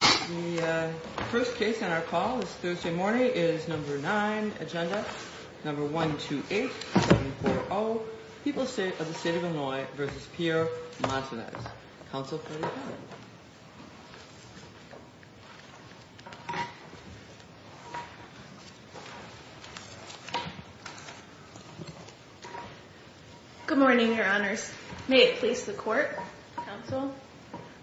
The first case on our call this Thursday morning is number 9, agenda number 128, 740, People of the State of Illinois v. Pierre Montanez. Counsel, please be seated. Good morning, your honors. May it please the court, counsel.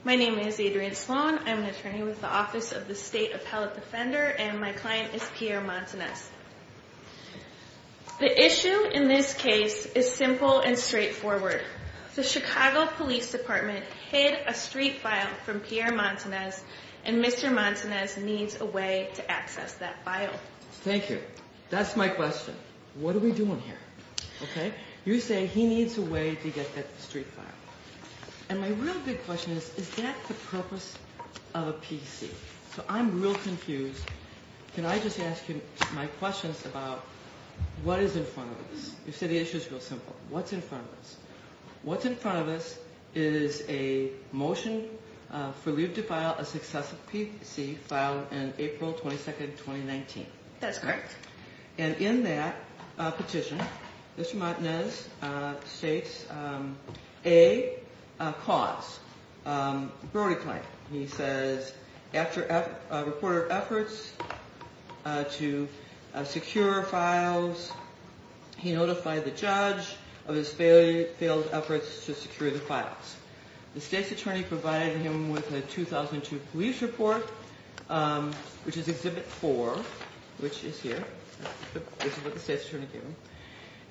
My name is Adrienne Sloan. I'm an attorney with the Office of the State Appellate Defender, and my client is Pierre Montanez. The issue in this case is simple and straightforward. The Chicago Police Department hid a street file from Pierre Montanez, and Mr. Montanez needs a way to access that file. Thank you. That's my question. What are we doing here? Okay. You say he needs a way to get that street file. And my real big question is, is that the purpose of a PC? So I'm real confused. Can I just ask you my questions about what is in front of us? You said the issue is real simple. What's in front of us? What's in front of us is a motion for leave to file a successive PC filed in April 22, 2019. That's correct. And in that petition, Mr. Montanez states a cause, a broader claim. He says after a report of efforts to secure files, he notified the judge of his failed efforts to secure the files. The state's attorney provided him with a 2002 police report, which is Exhibit 4, which is here. This is what the state's attorney gave him.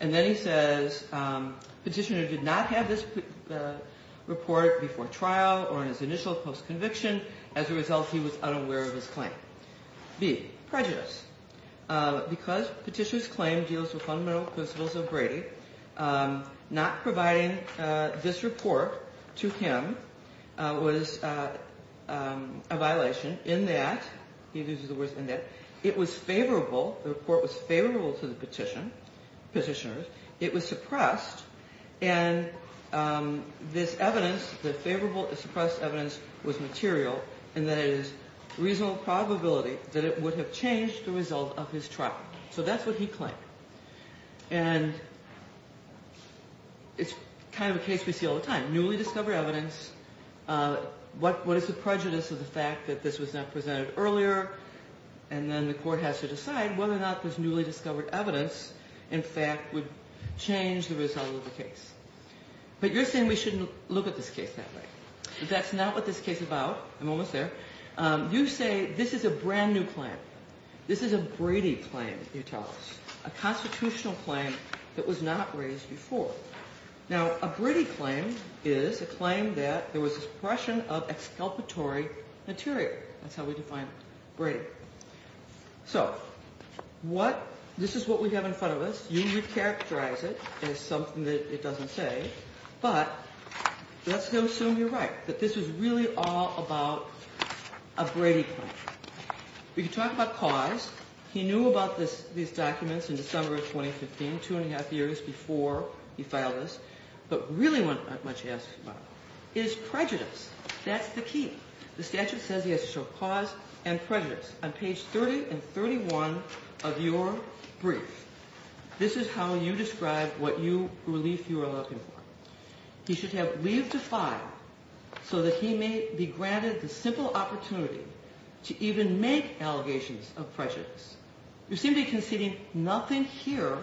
And then he says the petitioner did not have this report before trial or in his initial post-conviction. As a result, he was unaware of his claim. B, prejudice. Because petitioner's claim deals with fundamental principles of Brady, not providing this report to him was a violation in that it was favorable. The report was favorable to the petitioner. It was suppressed. And this evidence, the favorable suppressed evidence was material and that it is reasonable probability that it would have changed the result of his trial. So that's what he claimed. And it's kind of a case we see all the time. Newly discovered evidence. What is the prejudice of the fact that this was not presented earlier? And then the court has to decide whether or not this newly discovered evidence, in fact, would change the result of the case. But you're saying we shouldn't look at this case that way. That's not what this case is about. I'm almost there. You say this is a brand new claim. This is a Brady claim, you tell us. A constitutional claim that was not raised before. Now, a Brady claim is a claim that there was suppression of exculpatory material. That's how we define Brady. So, this is what we have in front of us. You would characterize it as something that it doesn't say. But let's assume you're right. That this was really all about a Brady claim. We could talk about cause. He knew about these documents in December of 2015, two and a half years before he filed this. But really what that much asks about is prejudice. That's the key. The statute says he has to show cause and prejudice on page 30 and 31 of your brief. This is how you describe what relief you are looking for. He should have leave to file so that he may be granted the simple opportunity to even make allegations of prejudice. You seem to be conceding nothing here,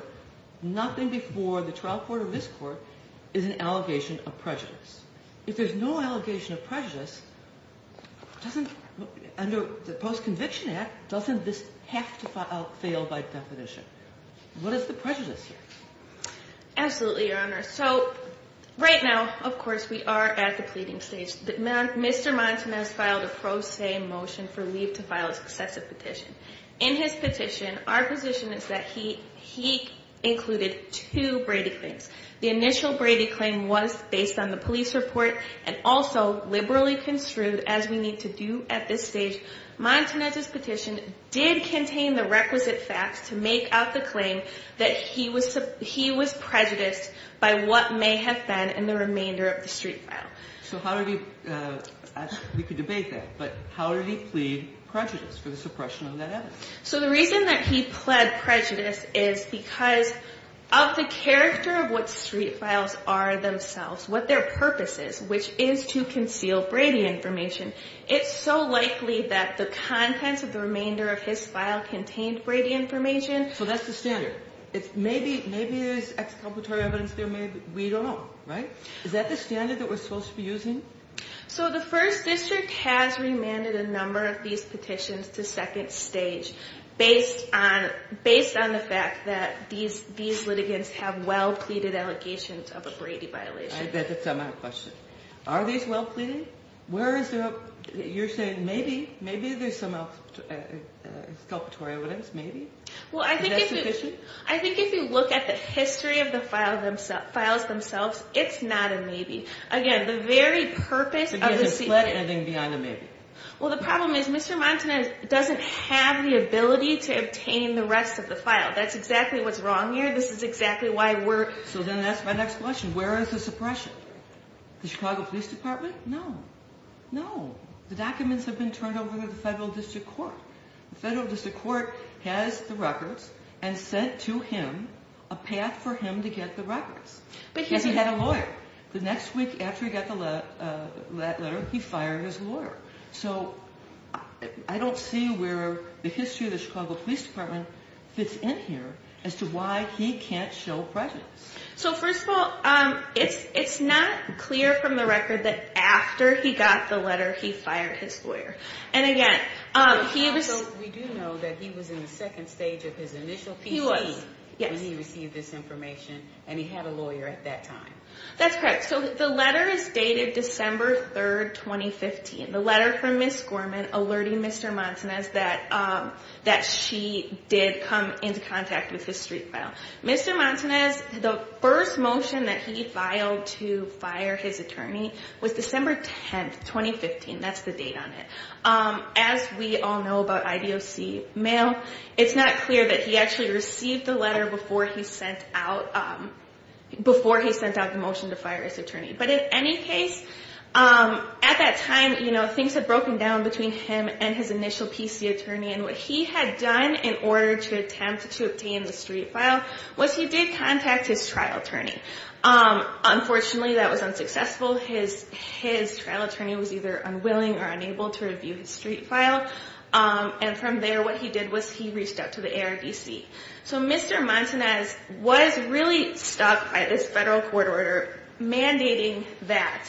nothing before the trial court or this court, is an allegation of prejudice. If there's no allegation of prejudice, under the Post-Conviction Act, doesn't this have to fail by definition? What is the prejudice here? Absolutely, Your Honor. So, right now, of course, we are at the pleading stage. Mr. Monson has filed a pro se motion for leave to file an excessive petition. In his petition, our position is that he included two Brady claims. The initial Brady claim was based on the police report and also liberally construed, as we need to do at this stage. Monson, at his petition, did contain the requisite facts to make out the claim that he was prejudiced by what may have been in the remainder of the street file. So how did he, we could debate that, but how did he plead prejudice for the suppression of that evidence? So the reason that he pled prejudice is because of the character of what street files are themselves, what their purpose is, which is to conceal Brady information. It's so likely that the contents of the remainder of his file contained Brady information. So that's the standard. Maybe there's exculpatory evidence there, maybe, we don't know, right? Is that the standard that we're supposed to be using? So the first district has remanded a number of these petitions to second stage based on the fact that these litigants have well pleaded allegations of a Brady violation. I bet that's not my question. Are these well pleaded? You're saying maybe, maybe there's some exculpatory evidence, maybe? I think if you look at the history of the files themselves, it's not a maybe. Again, the very purpose of the... Because there's a sled ending beyond a maybe. Well, the problem is Mr. Montanez doesn't have the ability to obtain the rest of the file. That's exactly what's wrong here. This is exactly why we're... So then that's my next question. Where is the suppression? The Chicago Police Department? No. No. The documents have been turned over to the federal district court. The federal district court has the records and sent to him a path for him to get the records. Because he had a lawyer. The next week after he got the letter, he fired his lawyer. So I don't see where the history of the Chicago Police Department fits in here as to why he can't show presence. So first of all, it's not clear from the record that after he got the letter, he fired his lawyer. And again, he... We do know that he was in the second stage of his initial PCE when he received this information, and he had a lawyer at that time. That's correct. So the letter is dated December 3rd, 2015. The letter from Ms. Gorman alerting Mr. Montanez that she did come into contact with his street file. Mr. Montanez, the first motion that he filed to fire his attorney was December 10th, 2015. That's the date on it. As we all know about IDOC mail, it's not clear that he actually received the letter before he sent out the motion to fire his attorney. But in any case, at that time, things had broken down between him and his initial PCE attorney. And what he had done in order to attempt to obtain the street file was he did contact his trial attorney. Unfortunately, that was unsuccessful. His trial attorney was either unwilling or unable to review his street file. And from there, what he did was he reached out to the ARDC. So Mr. Montanez was really stuck by this federal court order mandating that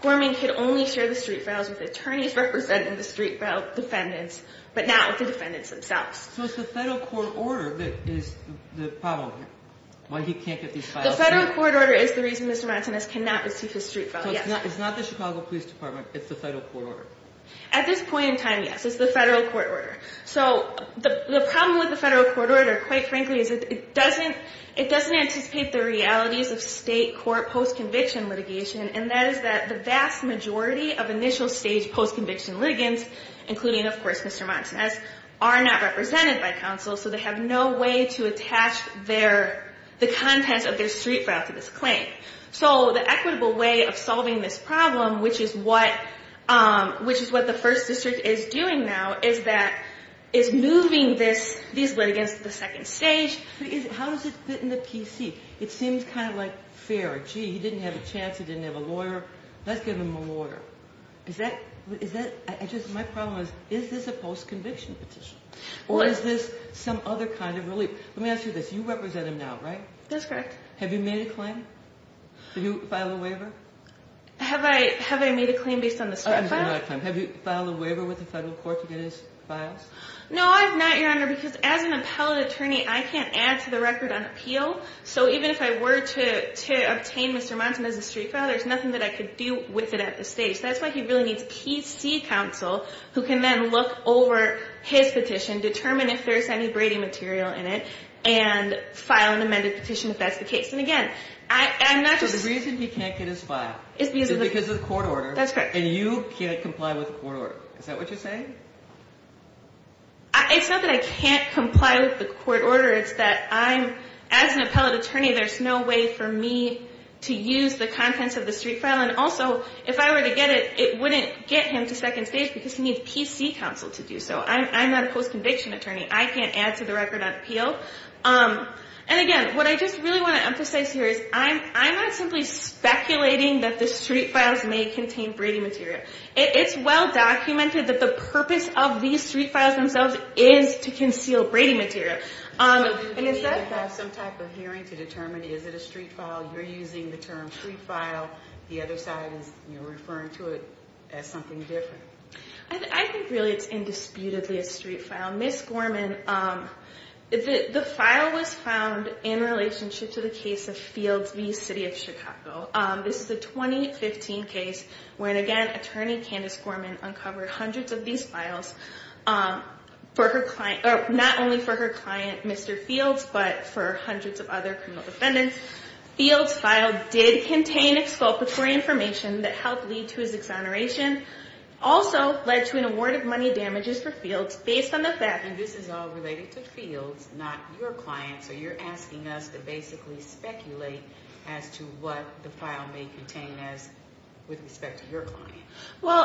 Gorman could only share the street files with attorneys representing the street file defendants, but not with the defendants themselves. So it's the federal court order that is the problem, why he can't get these files through? The federal court order is the reason Mr. Montanez cannot receive his street file, yes. So it's not the Chicago Police Department. It's the federal court order. At this point in time, yes. It's the federal court order. So the problem with the federal court order, quite frankly, is it doesn't anticipate the realities of state court post-conviction litigation. And that is that the vast majority of initial stage post-conviction litigants, including, of course, Mr. Montanez, are not represented by counsel. So they have no way to attach the contents of their street file to this claim. So the equitable way of solving this problem, which is what the first district is doing now, is moving these litigants to the second stage. How does it fit in the PC? It seems kind of like fair. Gee, he didn't have a chance. He didn't have a lawyer. Let's give him a lawyer. My problem is, is this a post-conviction petition? Or is this some other kind of relief? Let me ask you this. You represent him now, right? That's correct. Have you made a claim? Did you file a waiver? Have I made a claim based on the street file? Have you filed a waiver with the federal court to get his files? No, I have not, Your Honor, because as an appellate attorney, I can't add to the record on appeal. So even if I were to obtain Mr. Montanez's street file, there's nothing that I could do with it at this stage. That's why he really needs PC counsel who can then look over his petition, determine if there's any Brady material in it, and file an amended petition if that's the case. And again, I'm not just – So the reason he can't get his file is because of the court order. That's correct. And you can't comply with the court order. Is that what you're saying? It's not that I can't comply with the court order. It's that I'm – as an appellate attorney, there's no way for me to use the contents of the street file. And also, if I were to get it, it wouldn't get him to second stage because he needs PC counsel to do so. I'm not a post-conviction attorney. I can't add to the record on appeal. And again, what I just really want to emphasize here is I'm not simply speculating that the street files may contain Brady material. It's well documented that the purpose of these street files themselves is to conceal Brady material. So do you need to have some type of hearing to determine is it a street file? You're using the term street file. The other side is referring to it as something different. I think really it's indisputably a street file. Ms. Gorman, the file was found in relationship to the case of Fields v. City of Chicago. This is a 2015 case where, again, Attorney Candace Gorman uncovered hundreds of these files for her client – or not only for her client, Mr. Fields, but for hundreds of other criminal defendants. Fields' file did contain exculpatory information that helped lead to his exoneration. Also, led to an award of money damages for Fields based on the fact that – Well,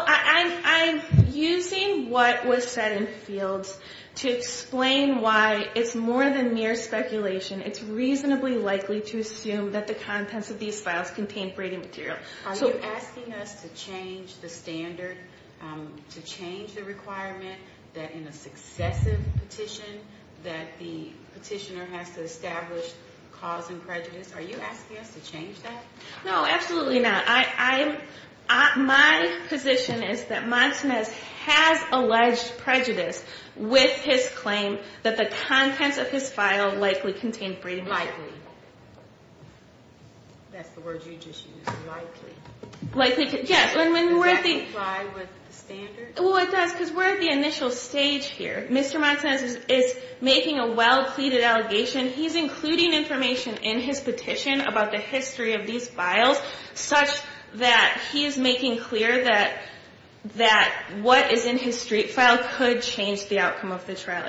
I'm using what was said in Fields to explain why it's more than mere speculation. It's reasonably likely to assume that the contents of these files contain Brady material. Are you asking us to change the standard, to change the requirement that in a successive petition that the petitioner has to establish cause and prejudice? Are you asking us to change that? No, absolutely not. My position is that Monsonez has alleged prejudice with his claim that the contents of his file likely contained Brady material. Likely. That's the word you just used. Likely. Likely. Yes. Does that comply with the standard? Well, it does because we're at the initial stage here. Mr. Monsonez is making a well-pleaded allegation. He's including information in his petition about the history of these files such that he is making clear that what is in his street file could change the outcome of the trial.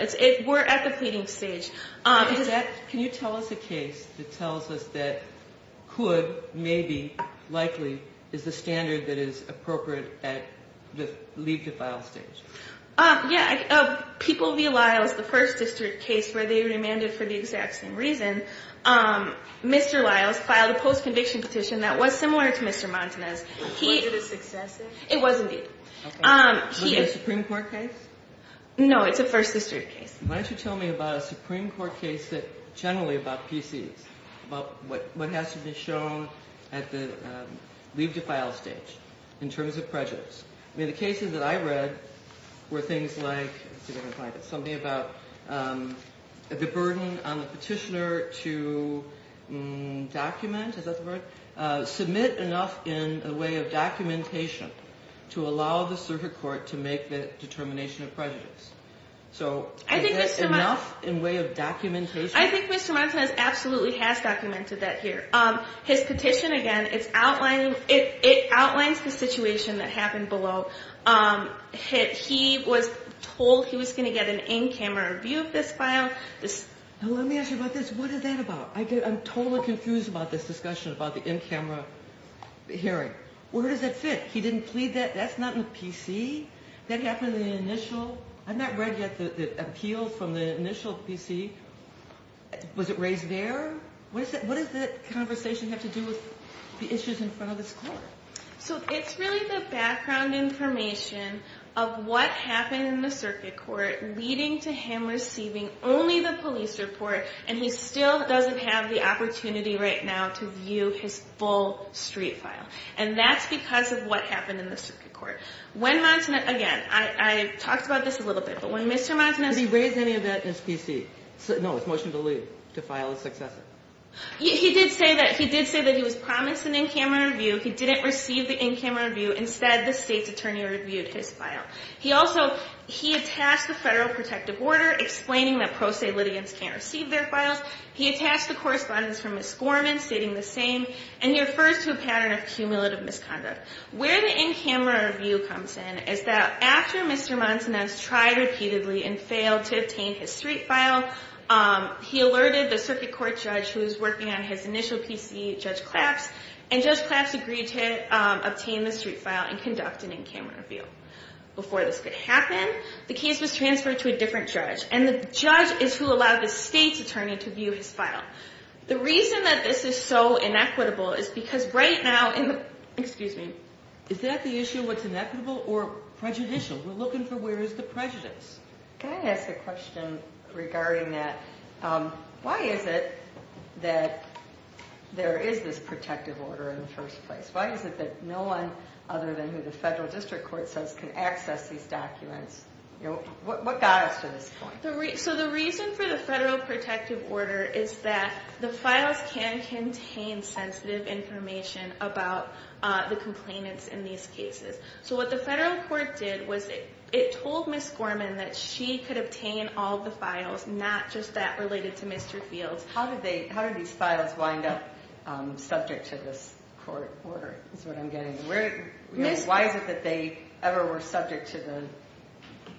We're at the pleading stage. Can you tell us a case that tells us that could, maybe, likely is the standard that is appropriate at the leave the file stage? Yeah. People v. Lyles, the first district case where they remanded for the exact same reason. Mr. Lyles filed a post-conviction petition that was similar to Mr. Monsonez. Was it a successive? It was, indeed. Was it a Supreme Court case? No, it's a first district case. Why don't you tell me about a Supreme Court case that's generally about PCs, about what has to be shown at the leave the file stage in terms of prejudice. I mean, the cases that I read were things like, let's see if I can find it, something about the burden on the petitioner to document, is that the word? Submit enough in a way of documentation to allow the circuit court to make the determination of prejudice. So is that enough in a way of documentation? I think Mr. Monsonez absolutely has documented that here. His petition, again, it outlines the situation that happened below. He was told he was going to get an in-camera view of this file. Now, let me ask you about this. What is that about? I'm totally confused about this discussion about the in-camera hearing. Where does that fit? He didn't plead that? That's not in the PC? That happened in the initial? I've not read yet the appeals from the initial PC. Was it raised there? What does that conversation have to do with the issues in front of this court? So it's really the background information of what happened in the circuit court leading to him receiving only the police report, and he still doesn't have the opportunity right now to view his full street file. And that's because of what happened in the circuit court. When Monsonez, again, I talked about this a little bit, but when Mr. Monsonez Did he raise any of that in his PC? No, his motion to leave, to file his successor. He did say that he was promised an in-camera review. He didn't receive the in-camera review. Instead, the state's attorney reviewed his file. He attached the federal protective order explaining that pro se litigants can't receive their files. He attached the correspondence from Ms. Gorman stating the same, and he refers to a pattern of cumulative misconduct. Where the in-camera review comes in is that after Mr. Monsonez tried repeatedly and failed to obtain his street file, he alerted the circuit court judge who was working on his initial PC, Judge Claps, and Judge Claps agreed to obtain the street file and conduct an in-camera review. Before this could happen, the case was transferred to a different judge, and the judge is who allowed the state's attorney to view his file. The reason that this is so inequitable is because right now... Excuse me. Is that the issue, what's inequitable, or prejudicial? We're looking for where is the prejudice. Can I ask a question regarding that? Why is it that there is this protective order in the first place? Why is it that no one other than who the federal district court says can access these documents? What got us to this point? The reason for the federal protective order is that the files can contain sensitive information about the complainants in these cases. What the federal court did was it told Ms. Gorman that she could obtain all the files, not just that related to Mr. Fields. How did these files wind up subject to this court order is what I'm getting. Why is it that they ever were subject to the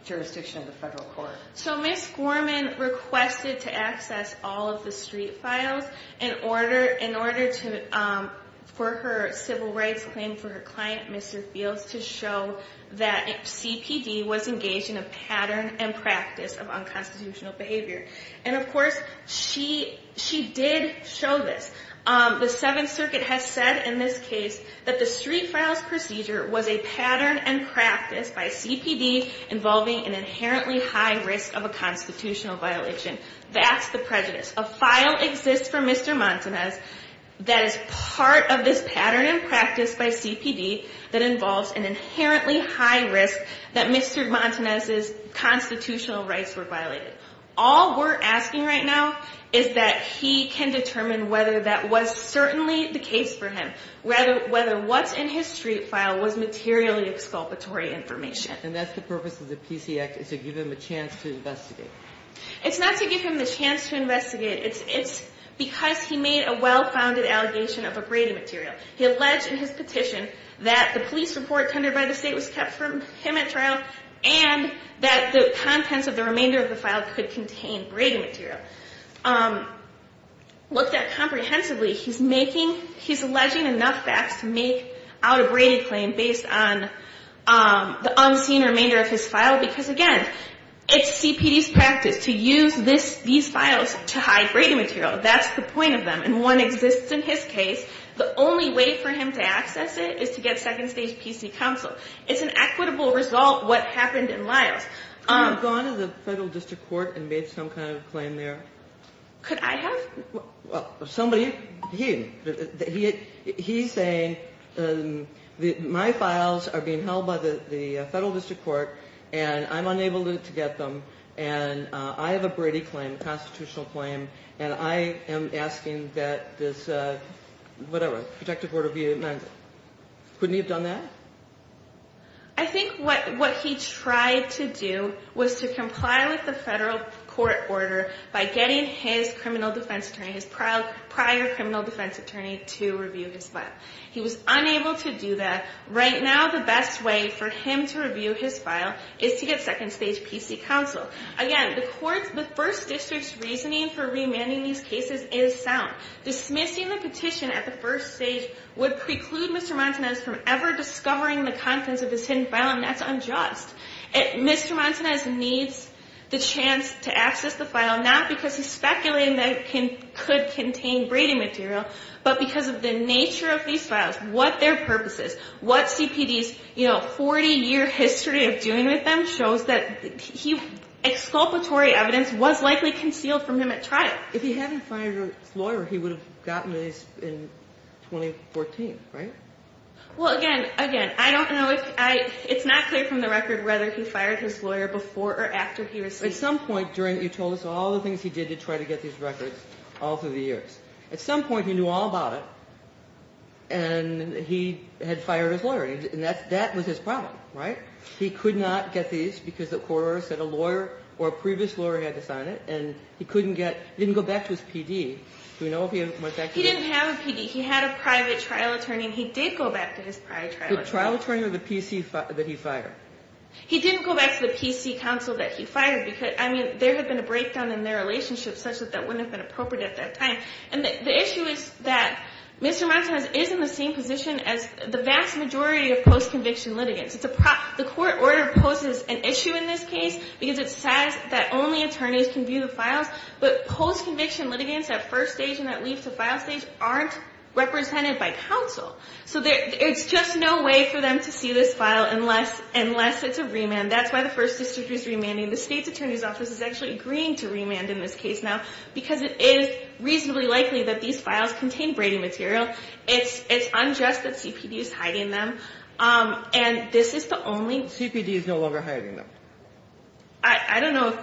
jurisdiction of the federal court? Ms. Gorman requested to access all of the street files in order for her civil rights claim for her client, Mr. Fields, to show that CPD was engaged in a pattern and practice of unconstitutional behavior. Of course, she did show this. The Seventh Circuit has said in this case that the street files procedure was a pattern and practice by CPD involving an inherently high risk of a constitutional violation. That's the prejudice. A file exists for Mr. Montanez that is part of this pattern and practice by CPD that involves an inherently high risk that Mr. Montanez's constitutional rights were violated. All we're asking right now is that he can determine whether that was certainly the case for him, whether what's in his street file was materially exculpatory information. And that's the purpose of the PC Act is to give him a chance to investigate. It's not to give him the chance to investigate. It's because he made a well-founded allegation of a Brady material. He alleged in his petition that the police report tendered by the state was kept from him at trial and that the contents of the remainder of the file could contain Brady material. Looked at comprehensively, he's making, he's alleging enough facts to make out a Brady claim based on the unseen remainder of his file because, again, it's CPD's practice to use these files to hide Brady material. That's the point of them. And one exists in his case. The only way for him to access it is to get second stage PC counsel. It's an equitable result what happened in Lyles. Have you gone to the federal district court and made some kind of claim there? Could I have? Somebody, he's saying my files are being held by the federal district court and I'm unable to get them and I have a Brady claim, a constitutional claim, and I am asking that this, whatever, protective order be amended. Couldn't he have done that? I think what he tried to do was to comply with the federal court order by getting his criminal defense attorney, his prior criminal defense attorney, to review his file. He was unable to do that. Right now the best way for him to review his file is to get second stage PC counsel. Again, the court's, the first district's reasoning for remanding these cases is sound. Dismissing the petition at the first stage would preclude Mr. Montanez from ever discovering the contents of his hidden file, and that's unjust. Mr. Montanez needs the chance to access the file, not because he's speculating that it could contain Brady material, but because of the nature of these files, what their purpose is, what CPD's, you know, 40-year history of doing with them shows that he, exculpatory evidence was likely concealed from him at trial. If he hadn't fired his lawyer, he would have gotten these in 2014, right? Well, again, again, I don't know if I, it's not clear from the record whether he fired his lawyer before or after he received them. At some point during, you told us all the things he did to try to get these records all through the years. At some point he knew all about it, and he had fired his lawyer, and that was his problem, right? He could not get these because the court order said a lawyer or a previous lawyer had to sign it, and he couldn't get, didn't go back to his PD. Do we know if he went back to his? He didn't have a PD. He had a private trial attorney, and he did go back to his private trial attorney. The trial attorney or the PC that he fired? He didn't go back to the PC counsel that he fired because, I mean, there had been a breakdown in their relationship such that that wouldn't have been appropriate at that time. And the issue is that Mr. Montanez is in the same position as the vast majority of post-conviction litigants. The court order poses an issue in this case because it says that only attorneys can view the files, but post-conviction litigants at first stage and that leave to file stage aren't represented by counsel. So it's just no way for them to see this file unless it's a remand. That's why the First District is remanding. The state's attorney's office is actually agreeing to remand in this case now because it is reasonably likely that these files contain Brady material. It's unjust that CPD is hiding them. And this is the only— CPD is no longer hiding them. I don't know.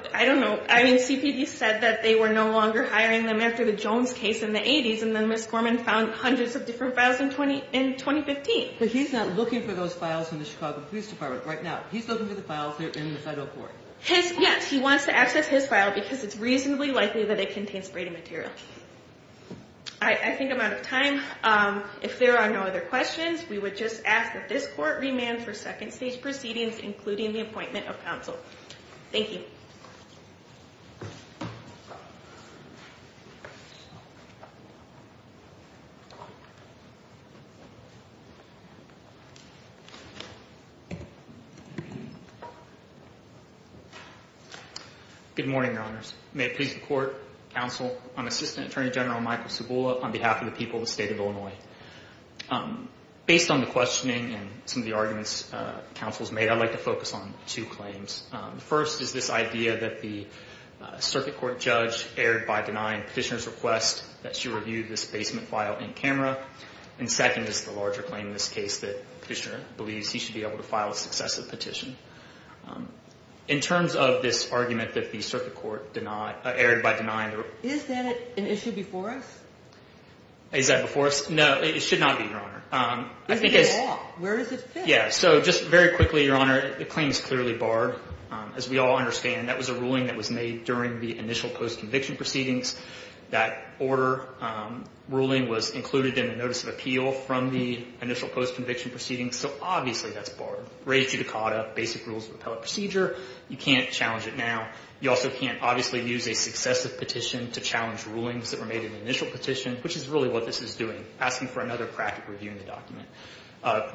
I mean, CPD said that they were no longer hiring them after the Jones case in the 80s, and then Ms. Gorman found hundreds of different files in 2015. But he's not looking for those files in the Chicago Police Department right now. He's looking for the files that are in the federal court. Yes, he wants to access his file because it's reasonably likely that it contains Brady material. I think I'm out of time. If there are no other questions, we would just ask that this court remand for second stage proceedings, including the appointment of counsel. Thank you. Good morning, Your Honors. May it please the court, counsel, I'm Assistant Attorney General Michael Cibula on behalf of the people of the state of Illinois. Based on the questioning and some of the arguments counsel has made, I'd like to focus on two claims. The first is this idea that the circuit court judge erred by denying Petitioner's request that she review this basement file in camera. And second is the larger claim in this case that Petitioner believes he should be able to file a successive petition. In terms of this argument that the circuit court erred by denying— Is that an issue before us? Is that before us? No, it should not be, Your Honor. Where does it fit? Yeah, so just very quickly, Your Honor, the claim is clearly barred. As we all understand, that was a ruling that was made during the initial post-conviction proceedings. That order ruling was included in the notice of appeal from the initial post-conviction proceedings. So obviously that's barred. Raised to Ducata, basic rules of appellate procedure. You can't challenge it now. You also can't obviously use a successive petition to challenge rulings that were made in the initial petition, which is really what this is doing, asking for another practical review in the document,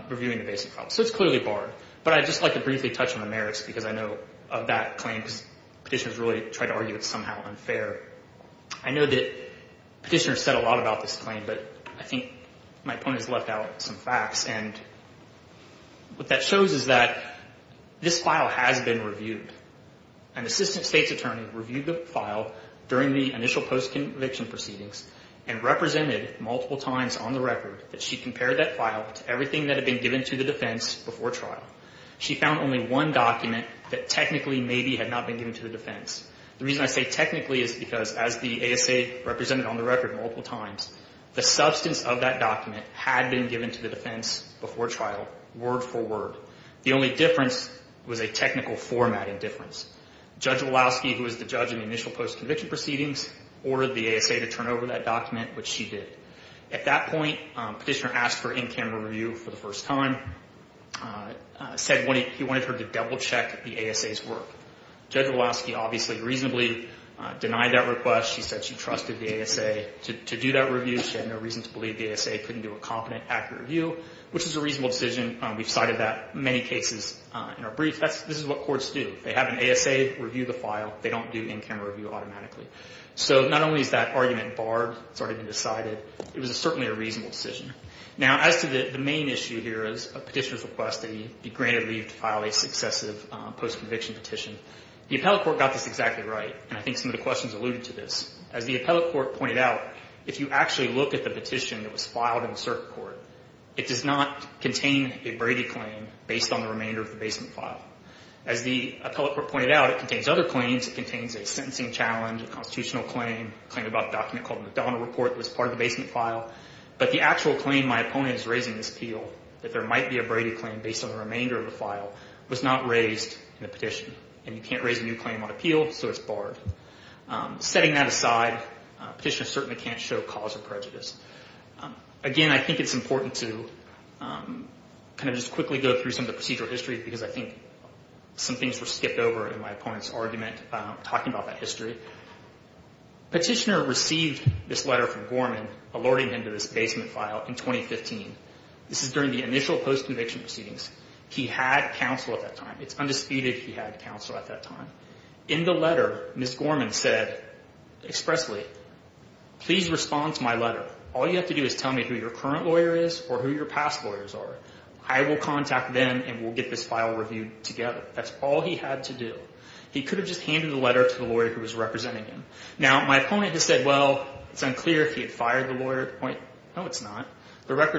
reviewing the basic file. So it's clearly barred. But I'd just like to briefly touch on the merits, because I know of that claim, because Petitioner's really tried to argue it's somehow unfair. I know that Petitioner said a lot about this claim, but I think my opponents left out some facts. And what that shows is that this file has been reviewed. An assistant state's attorney reviewed the file during the initial post-conviction proceedings and represented multiple times on the record that she compared that file to everything that had been given to the defense before trial. She found only one document that technically maybe had not been given to the defense. The reason I say technically is because as the ASA represented on the record multiple times, the substance of that document had been given to the defense before trial, word for word. The only difference was a technical formatting difference. Judge Walowski, who was the judge in the initial post-conviction proceedings, ordered the ASA to turn over that document, which she did. At that point, Petitioner asked for in-camera review for the first time. He wanted her to double-check the ASA's work. Judge Walowski obviously reasonably denied that request. She said she trusted the ASA to do that review. She had no reason to believe the ASA couldn't do a competent, accurate review, which is a reasonable decision. We've cited that in many cases in our briefs. This is what courts do. They have an ASA review the file. They don't do in-camera review automatically. So not only is that argument barred, it's already been decided, it was certainly a reasonable decision. Now, as to the main issue here is Petitioner's request that he be granted leave to file a successive post-conviction petition, the appellate court got this exactly right, and I think some of the questions alluded to this. As the appellate court pointed out, if you actually look at the petition that was filed in the circuit court, it does not contain a Brady claim based on the remainder of the basement file. As the appellate court pointed out, it contains other claims. It contains a sentencing challenge, a constitutional claim, a claim about a document called McDonald Report that was part of the basement file. But the actual claim, my opponent is raising this appeal, that there might be a Brady claim based on the remainder of the file, was not raised in the petition. And you can't raise a new claim on appeal, so it's barred. Setting that aside, Petitioner certainly can't show cause for prejudice. Again, I think it's important to kind of just quickly go through some of the procedural history because I think some things were skipped over in my opponent's argument talking about that history. Petitioner received this letter from Gorman alerting him to this basement file in 2015. This is during the initial post-conviction proceedings. He had counsel at that time. It's undisputed he had counsel at that time. In the letter, Ms. Gorman said expressly, please respond to my letter. All you have to do is tell me who your current lawyer is or who your past lawyers are. I will contact them and we'll get this file reviewed together. That's all he had to do. He could have just handed the letter to the lawyer who was representing him. Now, my opponent has said, well, it's unclear if he had fired the lawyer at the point. No, it's not. At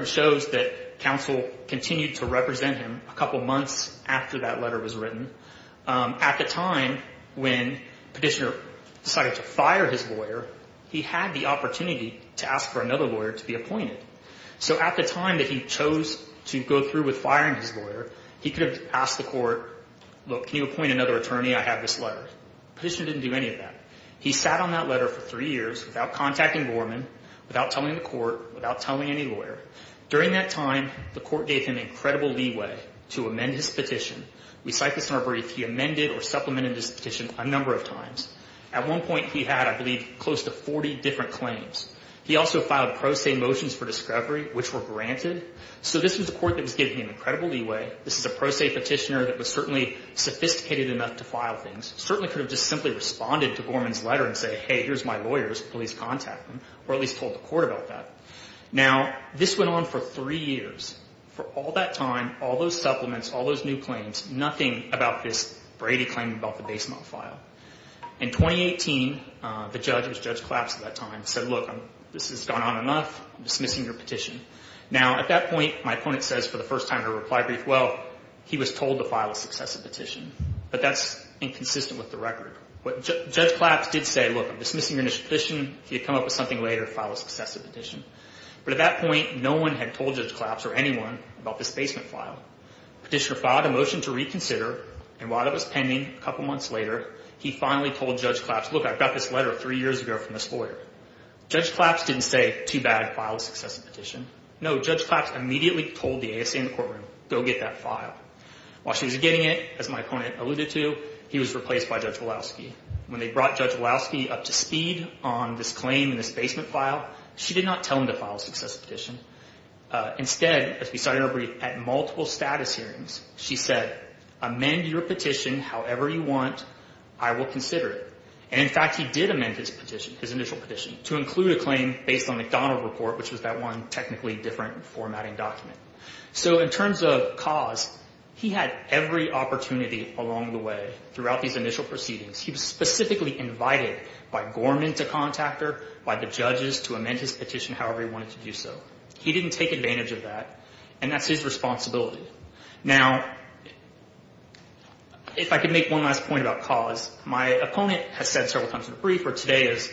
the time when Petitioner decided to fire his lawyer, he had the opportunity to ask for another lawyer to be appointed. So at the time that he chose to go through with firing his lawyer, he could have asked the court, look, can you appoint another attorney? I have this letter. Petitioner didn't do any of that. He sat on that letter for three years without contacting Gorman, without telling the court, without telling any lawyer. During that time, the court gave him incredible leeway to amend his petition. We cite this in our brief. He amended or supplemented his petition a number of times. At one point, he had, I believe, close to 40 different claims. He also filed pro se motions for discovery, which were granted. So this was a court that was giving him incredible leeway. This is a pro se petitioner that was certainly sophisticated enough to file things, certainly could have just simply responded to Gorman's letter and said, hey, here's my lawyers. Please contact them, or at least told the court about that. Now, this went on for three years. For all that time, all those supplements, all those new claims, nothing about this Brady claim about the basement file. In 2018, the judge, it was Judge Claps at that time, said, look, this has gone on enough. I'm dismissing your petition. Now, at that point, my opponent says for the first time in a reply brief, well, he was told to file a successive petition. But that's inconsistent with the record. Judge Claps did say, look, I'm dismissing your petition. If you come up with something later, file a successive petition. But at that point, no one had told Judge Claps or anyone about this basement file. Petitioner filed a motion to reconsider, and while it was pending, a couple months later, he finally told Judge Claps, look, I got this letter three years ago from this lawyer. Judge Claps didn't say, too bad, file a successive petition. No, Judge Claps immediately told the ASA in the courtroom, go get that file. While she was getting it, as my opponent alluded to, he was replaced by Judge Walowski. When they brought Judge Walowski up to speed on this claim and this basement file, she did not tell him to file a successive petition. Instead, as we saw in her brief, at multiple status hearings, she said, amend your petition however you want. I will consider it. And, in fact, he did amend his petition, his initial petition, to include a claim based on a McDonald report, which was that one technically different formatting document. So in terms of cause, he had every opportunity along the way throughout these initial proceedings. He was specifically invited by Gorman to contact her, by the judges to amend his petition however he wanted to do so. He didn't take advantage of that, and that's his responsibility. Now, if I could make one last point about cause, my opponent has said several times in the brief where today is,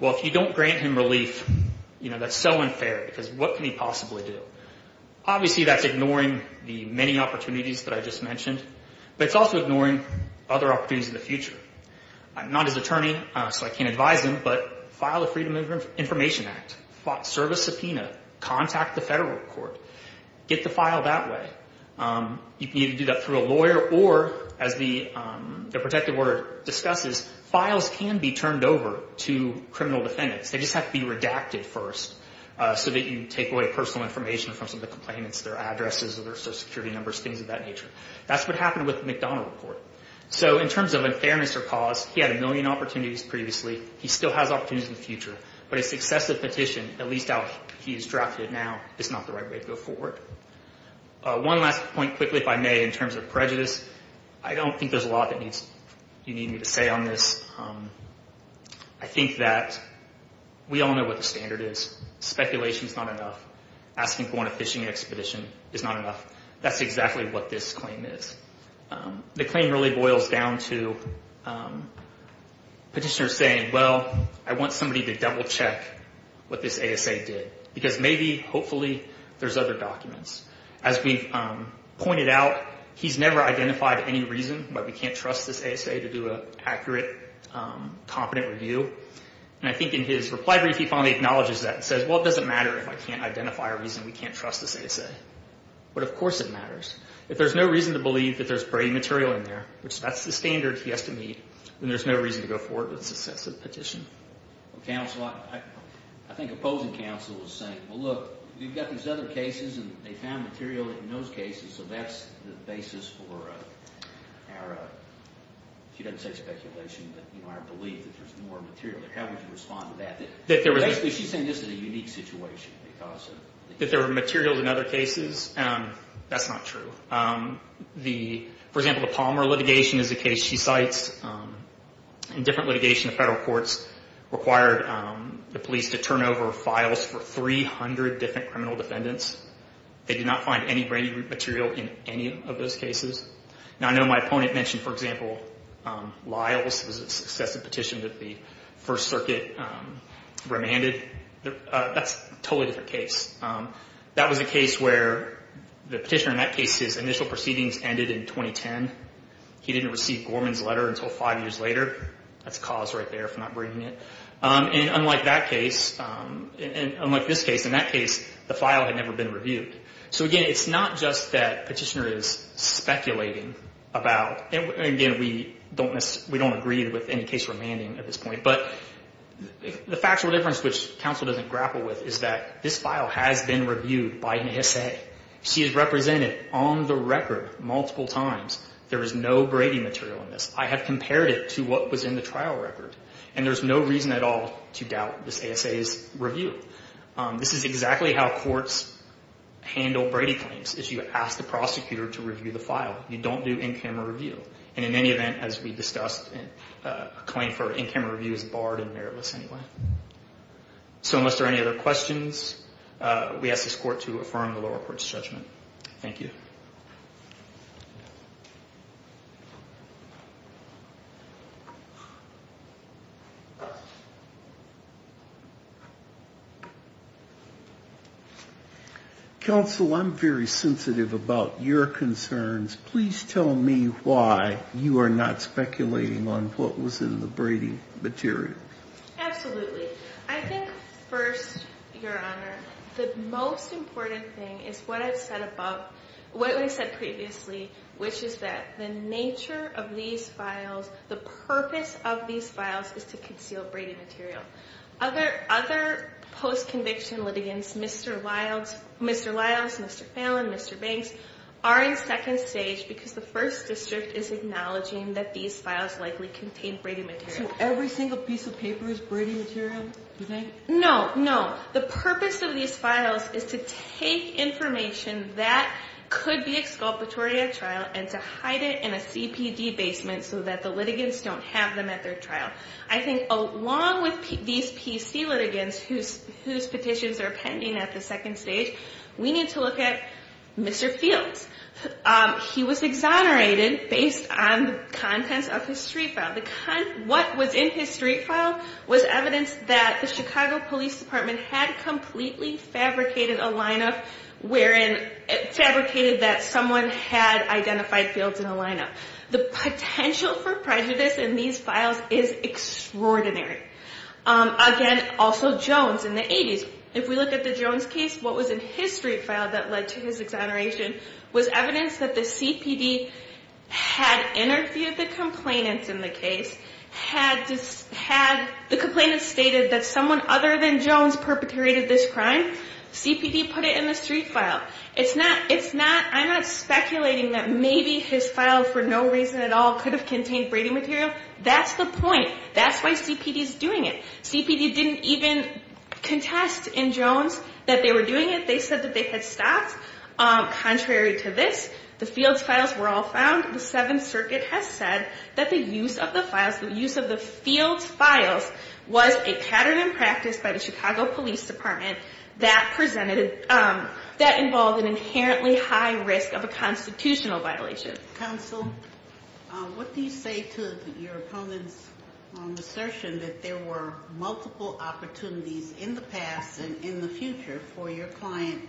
well, if you don't grant him relief, that's so unfair because what can he possibly do? Obviously, that's ignoring the many opportunities that I just mentioned, but it's also ignoring other opportunities in the future. I'm not his attorney, so I can't advise him, but file a Freedom of Information Act, file a service subpoena, contact the federal court, get the file that way. You can either do that through a lawyer or, as the protective order discusses, files can be turned over to criminal defendants. They just have to be redacted first so that you take away personal information from some of the complainants, their addresses, their social security numbers, things of that nature. That's what happened with the McDonnell report. So in terms of unfairness or cause, he had a million opportunities previously. He still has opportunities in the future, but his successive petition, at least how he has drafted it now, is not the right way to go forward. One last point quickly, if I may, in terms of prejudice. I don't think there's a lot that you need me to say on this. I think that we all know what the standard is. Speculation is not enough. Asking to go on a fishing expedition is not enough. That's exactly what this claim is. The claim really boils down to petitioners saying, well, I want somebody to double check what this ASA did, because maybe, hopefully, there's other documents. As we've pointed out, he's never identified any reason why we can't trust this ASA to do an accurate, competent review. And I think in his reply brief, he finally acknowledges that and says, well, it doesn't matter if I can't identify a reason we can't trust this ASA. But of course it matters. If there's no reason to believe that there's brainy material in there, which that's the standard he has to meet, then there's no reason to go forward with a successive petition. Counsel, I think opposing counsel is saying, well, look, we've got these other cases and they found material in those cases, so that's the basis for our, if you didn't say speculation, but I believe that there's more material there. How would you respond to that? She's saying this is a unique situation. That there were materials in other cases? That's not true. For example, the Palmer litigation is a case she cites. In different litigation, the federal courts required the police to turn over files for 300 different criminal defendants. They did not find any brainy material in any of those cases. I know my opponent mentioned, for example, Lyles. It was a successive petition that the First Circuit remanded. That's a totally different case. That was a case where the petitioner in that case, his initial proceedings ended in 2010. He didn't receive Gorman's letter until five years later. That's a cause right there for not bringing it. Unlike this case, in that case, the file had never been reviewed. Again, it's not just that petitioner is speculating about. Again, we don't agree with any case remanding at this point. The factual difference, which counsel doesn't grapple with, is that this file has been reviewed by an ASA. She has represented on the record multiple times. There is no brainy material in this. I have compared it to what was in the trial record. There's no reason at all to doubt this ASA's review. This is exactly how courts handle Brady claims. You ask the prosecutor to review the file. You don't do in-camera review. In any event, as we discussed, a claim for in-camera review is barred and meritless anyway. Unless there are any other questions, we ask this court to affirm the lower court's judgment. Thank you. Counsel, I'm very sensitive about your concerns. Please tell me why you are not speculating on what was in the Brady material. Absolutely. I think, first, Your Honor, the most important thing is what I've said above, what I said previously, which is that the nature of these files, the purpose of these files is to conceal Brady material. Other post-conviction litigants, Mr. Lyles, Mr. Fallon, Mr. Banks, are in second stage because the First District is acknowledging that these files likely contain Brady material. So every single piece of paper is Brady material, you think? No, no. The purpose of these files is to take information that could be exculpatory at trial and to hide it in a CPD basement so that the litigants don't have them at their trial. I think along with these PC litigants whose petitions are pending at the second stage, we need to look at Mr. Fields. He was exonerated based on the contents of his street file. What was in his street file was evidence that the Chicago Police Department had completely fabricated a lineup wherein it fabricated that someone had identified Fields in a lineup. The potential for prejudice in these files is extraordinary. Again, also Jones in the 80s. If we look at the Jones case, what was in his street file that led to his exoneration was evidence that the CPD had interviewed the complainants in the case, had the complainants stated that someone other than Jones perpetrated this crime. CPD put it in the street file. I'm not speculating that maybe his file for no reason at all could have contained braiding material. That's the point. That's why CPD is doing it. CPD didn't even contest in Jones that they were doing it. They said that they had stops. Contrary to this, the Fields files were all found. The Seventh Circuit has said that the use of the files, the use of the Fields files, was a pattern in practice by the Chicago Police Department that involved an inherently high risk of a constitutional violation. Counsel, what do you say to your opponent's assertion that there were multiple opportunities in the past and in the future for your client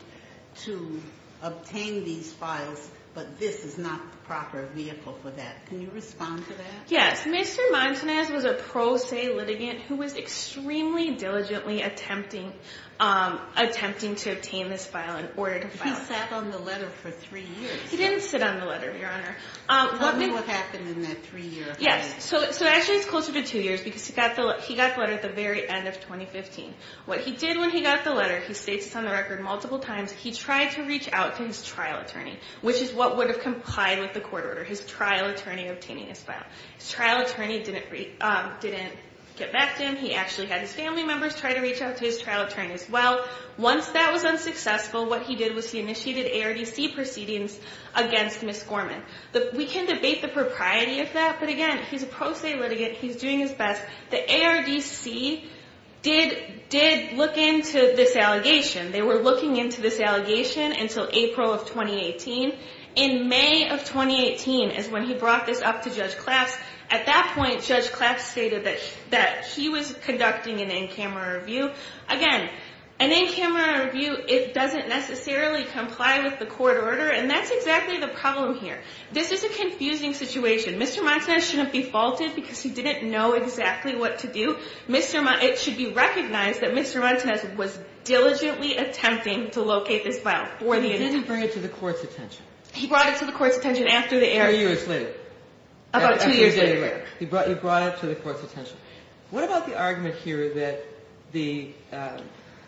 to obtain these files, but this is not the proper vehicle for that? Can you respond to that? Yes. Mr. Martinez was a pro se litigant who was extremely diligently attempting to obtain this file in order to file it. He sat on the letter for three years. He didn't sit on the letter, Your Honor. Tell me what happened in that three-year period. Yes. Actually, it's closer to two years because he got the letter at the very end of 2015. What he did when he got the letter, he states on the record multiple times, he tried to reach out to his trial attorney, which is what would have complied with the court order, his trial attorney obtaining his file. His trial attorney didn't get back to him. He actually had his family members try to reach out to his trial attorney as well. Once that was unsuccessful, what he did was he initiated ARDC proceedings against Ms. Gorman. We can debate the propriety of that, but again, he's a pro se litigant. He's doing his best. The ARDC did look into this allegation. They were looking into this allegation until April of 2018. In May of 2018 is when he brought this up to Judge Claps. At that point, Judge Claps stated that he was conducting an in-camera review. Again, an in-camera review, it doesn't necessarily comply with the court order, and that's exactly the problem here. This is a confusing situation. Mr. Montes shouldn't be faulted because he didn't know exactly what to do. It should be recognized that Mr. Montes was diligently attempting to locate this file. He didn't bring it to the court's attention. He brought it to the court's attention after the ARDC. Two years later. About two years later. He brought it to the court's attention. What about the argument here that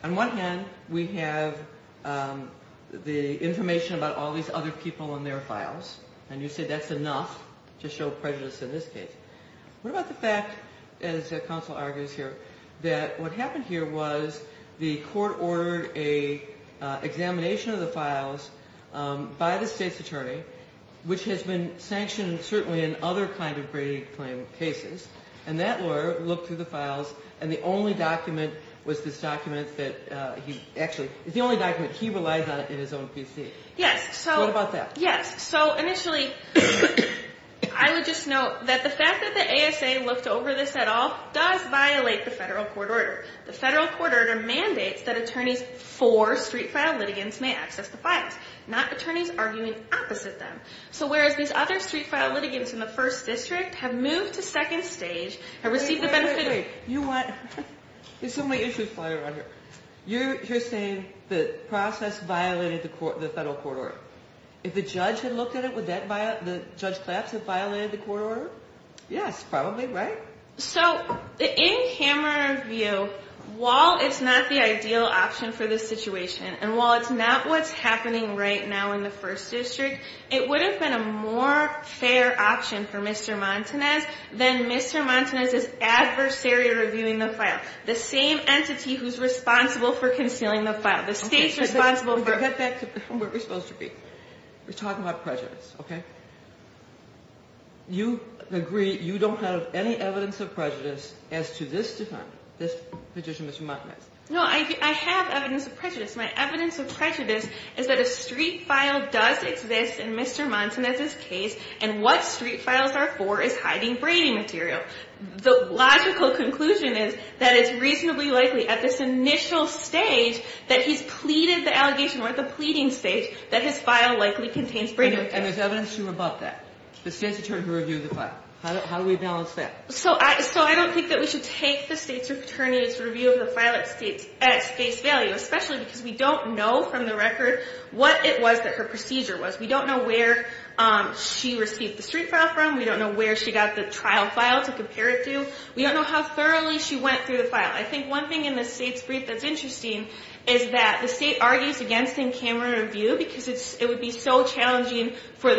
on one hand, we have the information about all these other people and their files, and you say that's enough to show prejudice in this case. What about the fact, as counsel argues here, that what happened here was the court ordered an examination of the files by the state's attorney, which has been sanctioned certainly in other kind of Brady claim cases, and that lawyer looked through the files, and the only document was this document that he actually, it's the only document he relies on in his own PC. Yes. What about that? Yes. Initially, I would just note that the fact that the ASA looked over this at all does violate the federal court order. The federal court order mandates that attorneys for street file litigants may access the files, not attorneys arguing opposite them. So whereas these other street file litigants in the first district have moved to second stage and received the benefit of… Wait, wait, wait. You want… There's so many issues flying around here. You're saying the process violated the federal court order. If the judge had looked at it, would the judge collapse and violate the court order? Yes, probably, right? So in hammer view, while it's not the ideal option for this situation and while it's not what's happening right now in the first district, it would have been a more fair option for Mr. Montanez than Mr. Montanez's adversary reviewing the file, the same entity who's responsible for concealing the file. The state's responsible for… Okay, so let's get back to where we're supposed to be. We're talking about prejudice, okay? You agree you don't have any evidence of prejudice as to this defendant, this petitioner, Mr. Montanez. No, I have evidence of prejudice. My evidence of prejudice is that a street file does exist in Mr. Montanez's case, and what street files are for is hiding braiding material. The logical conclusion is that it's reasonably likely at this initial stage that he's pleaded the allegation or at the pleading stage that his file likely contains braiding material. Okay, and there's evidence to rebut that. The state's attorney reviewed the file. How do we balance that? So I don't think that we should take the state's attorney's review of the file at face value, especially because we don't know from the record what it was that her procedure was. We don't know where she received the street file from. We don't know where she got the trial file to compare it to. We don't know how thoroughly she went through the file. I think one thing in the state's brief that's interesting is that the state argues against in-camera review because it would be so challenging for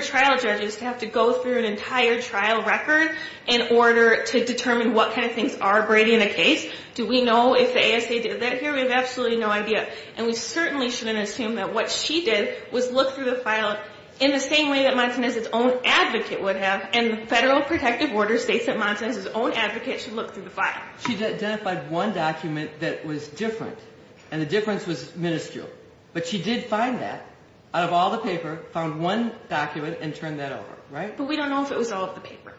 trial judges to have to go through an entire trial record in order to determine what kind of things are braiding the case. Do we know if the ASA did that here? We have absolutely no idea. And we certainly shouldn't assume that what she did was look through the file in the same way that Montanez's own advocate would have, and the Federal Protective Order states that Montanez's own advocate should look through the file. She identified one document that was different, and the difference was minuscule. But she did find that out of all the paper, found one document, and turned that over. But we don't know if it was all of the paper.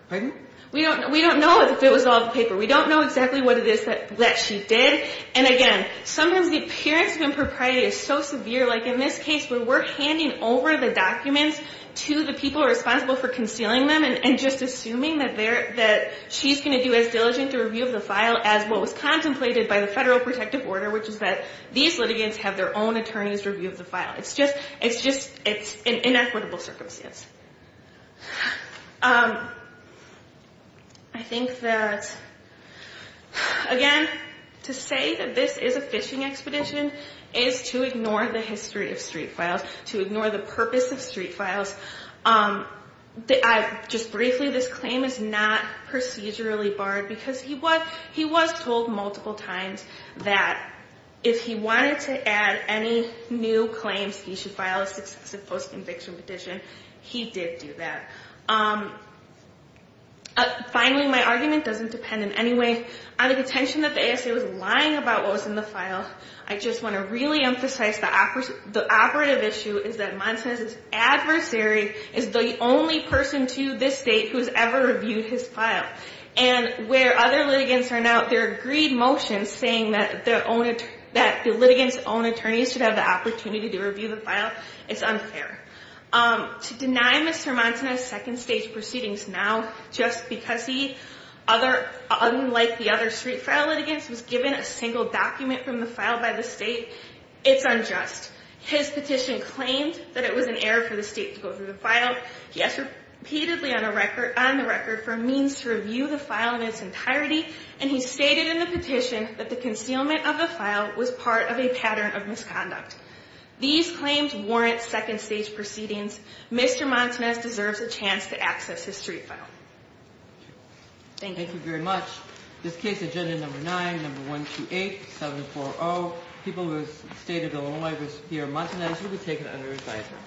We don't know if it was all of the paper. We don't know exactly what it is that she did. And again, sometimes the appearance of impropriety is so severe, like in this case where we're handing over the documents to the people responsible for concealing them and just assuming that she's going to do as diligent a review of the file as what was contemplated by the Federal Protective Order, which is that these litigants have their own attorney's review of the file. It's just an inequitable circumstance. I think that, again, to say that this is a phishing expedition is to ignore the history of street files, to ignore the purpose of street files. Just briefly, this claim is not procedurally barred because he was told multiple times that if he wanted to add any new claims, he should file a successive post-conviction petition. He did do that. Finally, my argument doesn't depend in any way on the contention that the ASA was lying about what was in the file. I just want to really emphasize the operative issue is that Montez's adversary is the only person to this date who has ever reviewed his file. And where other litigants are now, there are agreed motions saying that the litigants' own attorneys should have the opportunity to review the file. It's unfair. To deny Mr. Montez's second-stage proceedings now just because he, unlike the other street file litigants, was given a single document from the file by the state, it's unjust. His petition claimed that it was an error for the state to go through the file. He asked repeatedly on the record for a means to review the file in its entirety, and he stated in the petition that the concealment of the file was part of a pattern of misconduct. These claims warrant second-stage proceedings. Mr. Montez deserves a chance to access his street file. Thank you. Thank you very much. This case, Agenda No. 9, No. 128, 740, people who have stated a low-life risk here, Montez, will be taken under advisement.